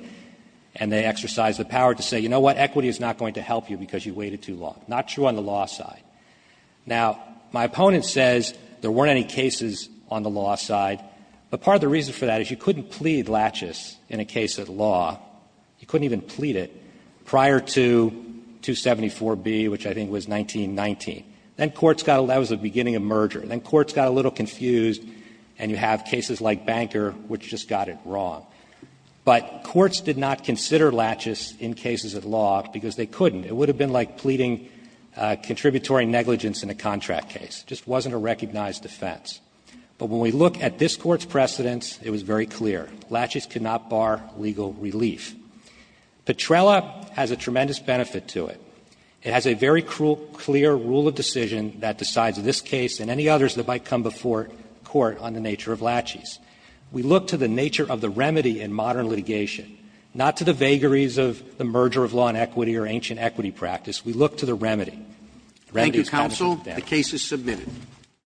and they exercised the power to say, you know what, equity is not going to help you because you waited too long, not true on the law side. Now, my opponent says there weren't any cases on the law side, but part of the reason for that is you couldn't plead latches in a case of law, you couldn't even plead it, prior to 274B, which I think was 1919. Then courts got a little – that was the beginning of merger. Then courts got a little confused and you have cases like Banker, which just got it wrong. But courts did not consider latches in cases of law because they couldn't. It would have been like pleading contributory negligence in a contract case. It just wasn't a recognized offense. But when we look at this Court's precedents, it was very clear. Latches could not bar legal relief. Petrella has a tremendous benefit to it. It has a very clear rule of decision that decides this case and any others that might come before court on the nature of latches. We look to the nature of the remedy in modern litigation, not to the vagaries of the merger of law and equity or ancient equity practice. We look to the remedy. The remedy is common sense. Roberts.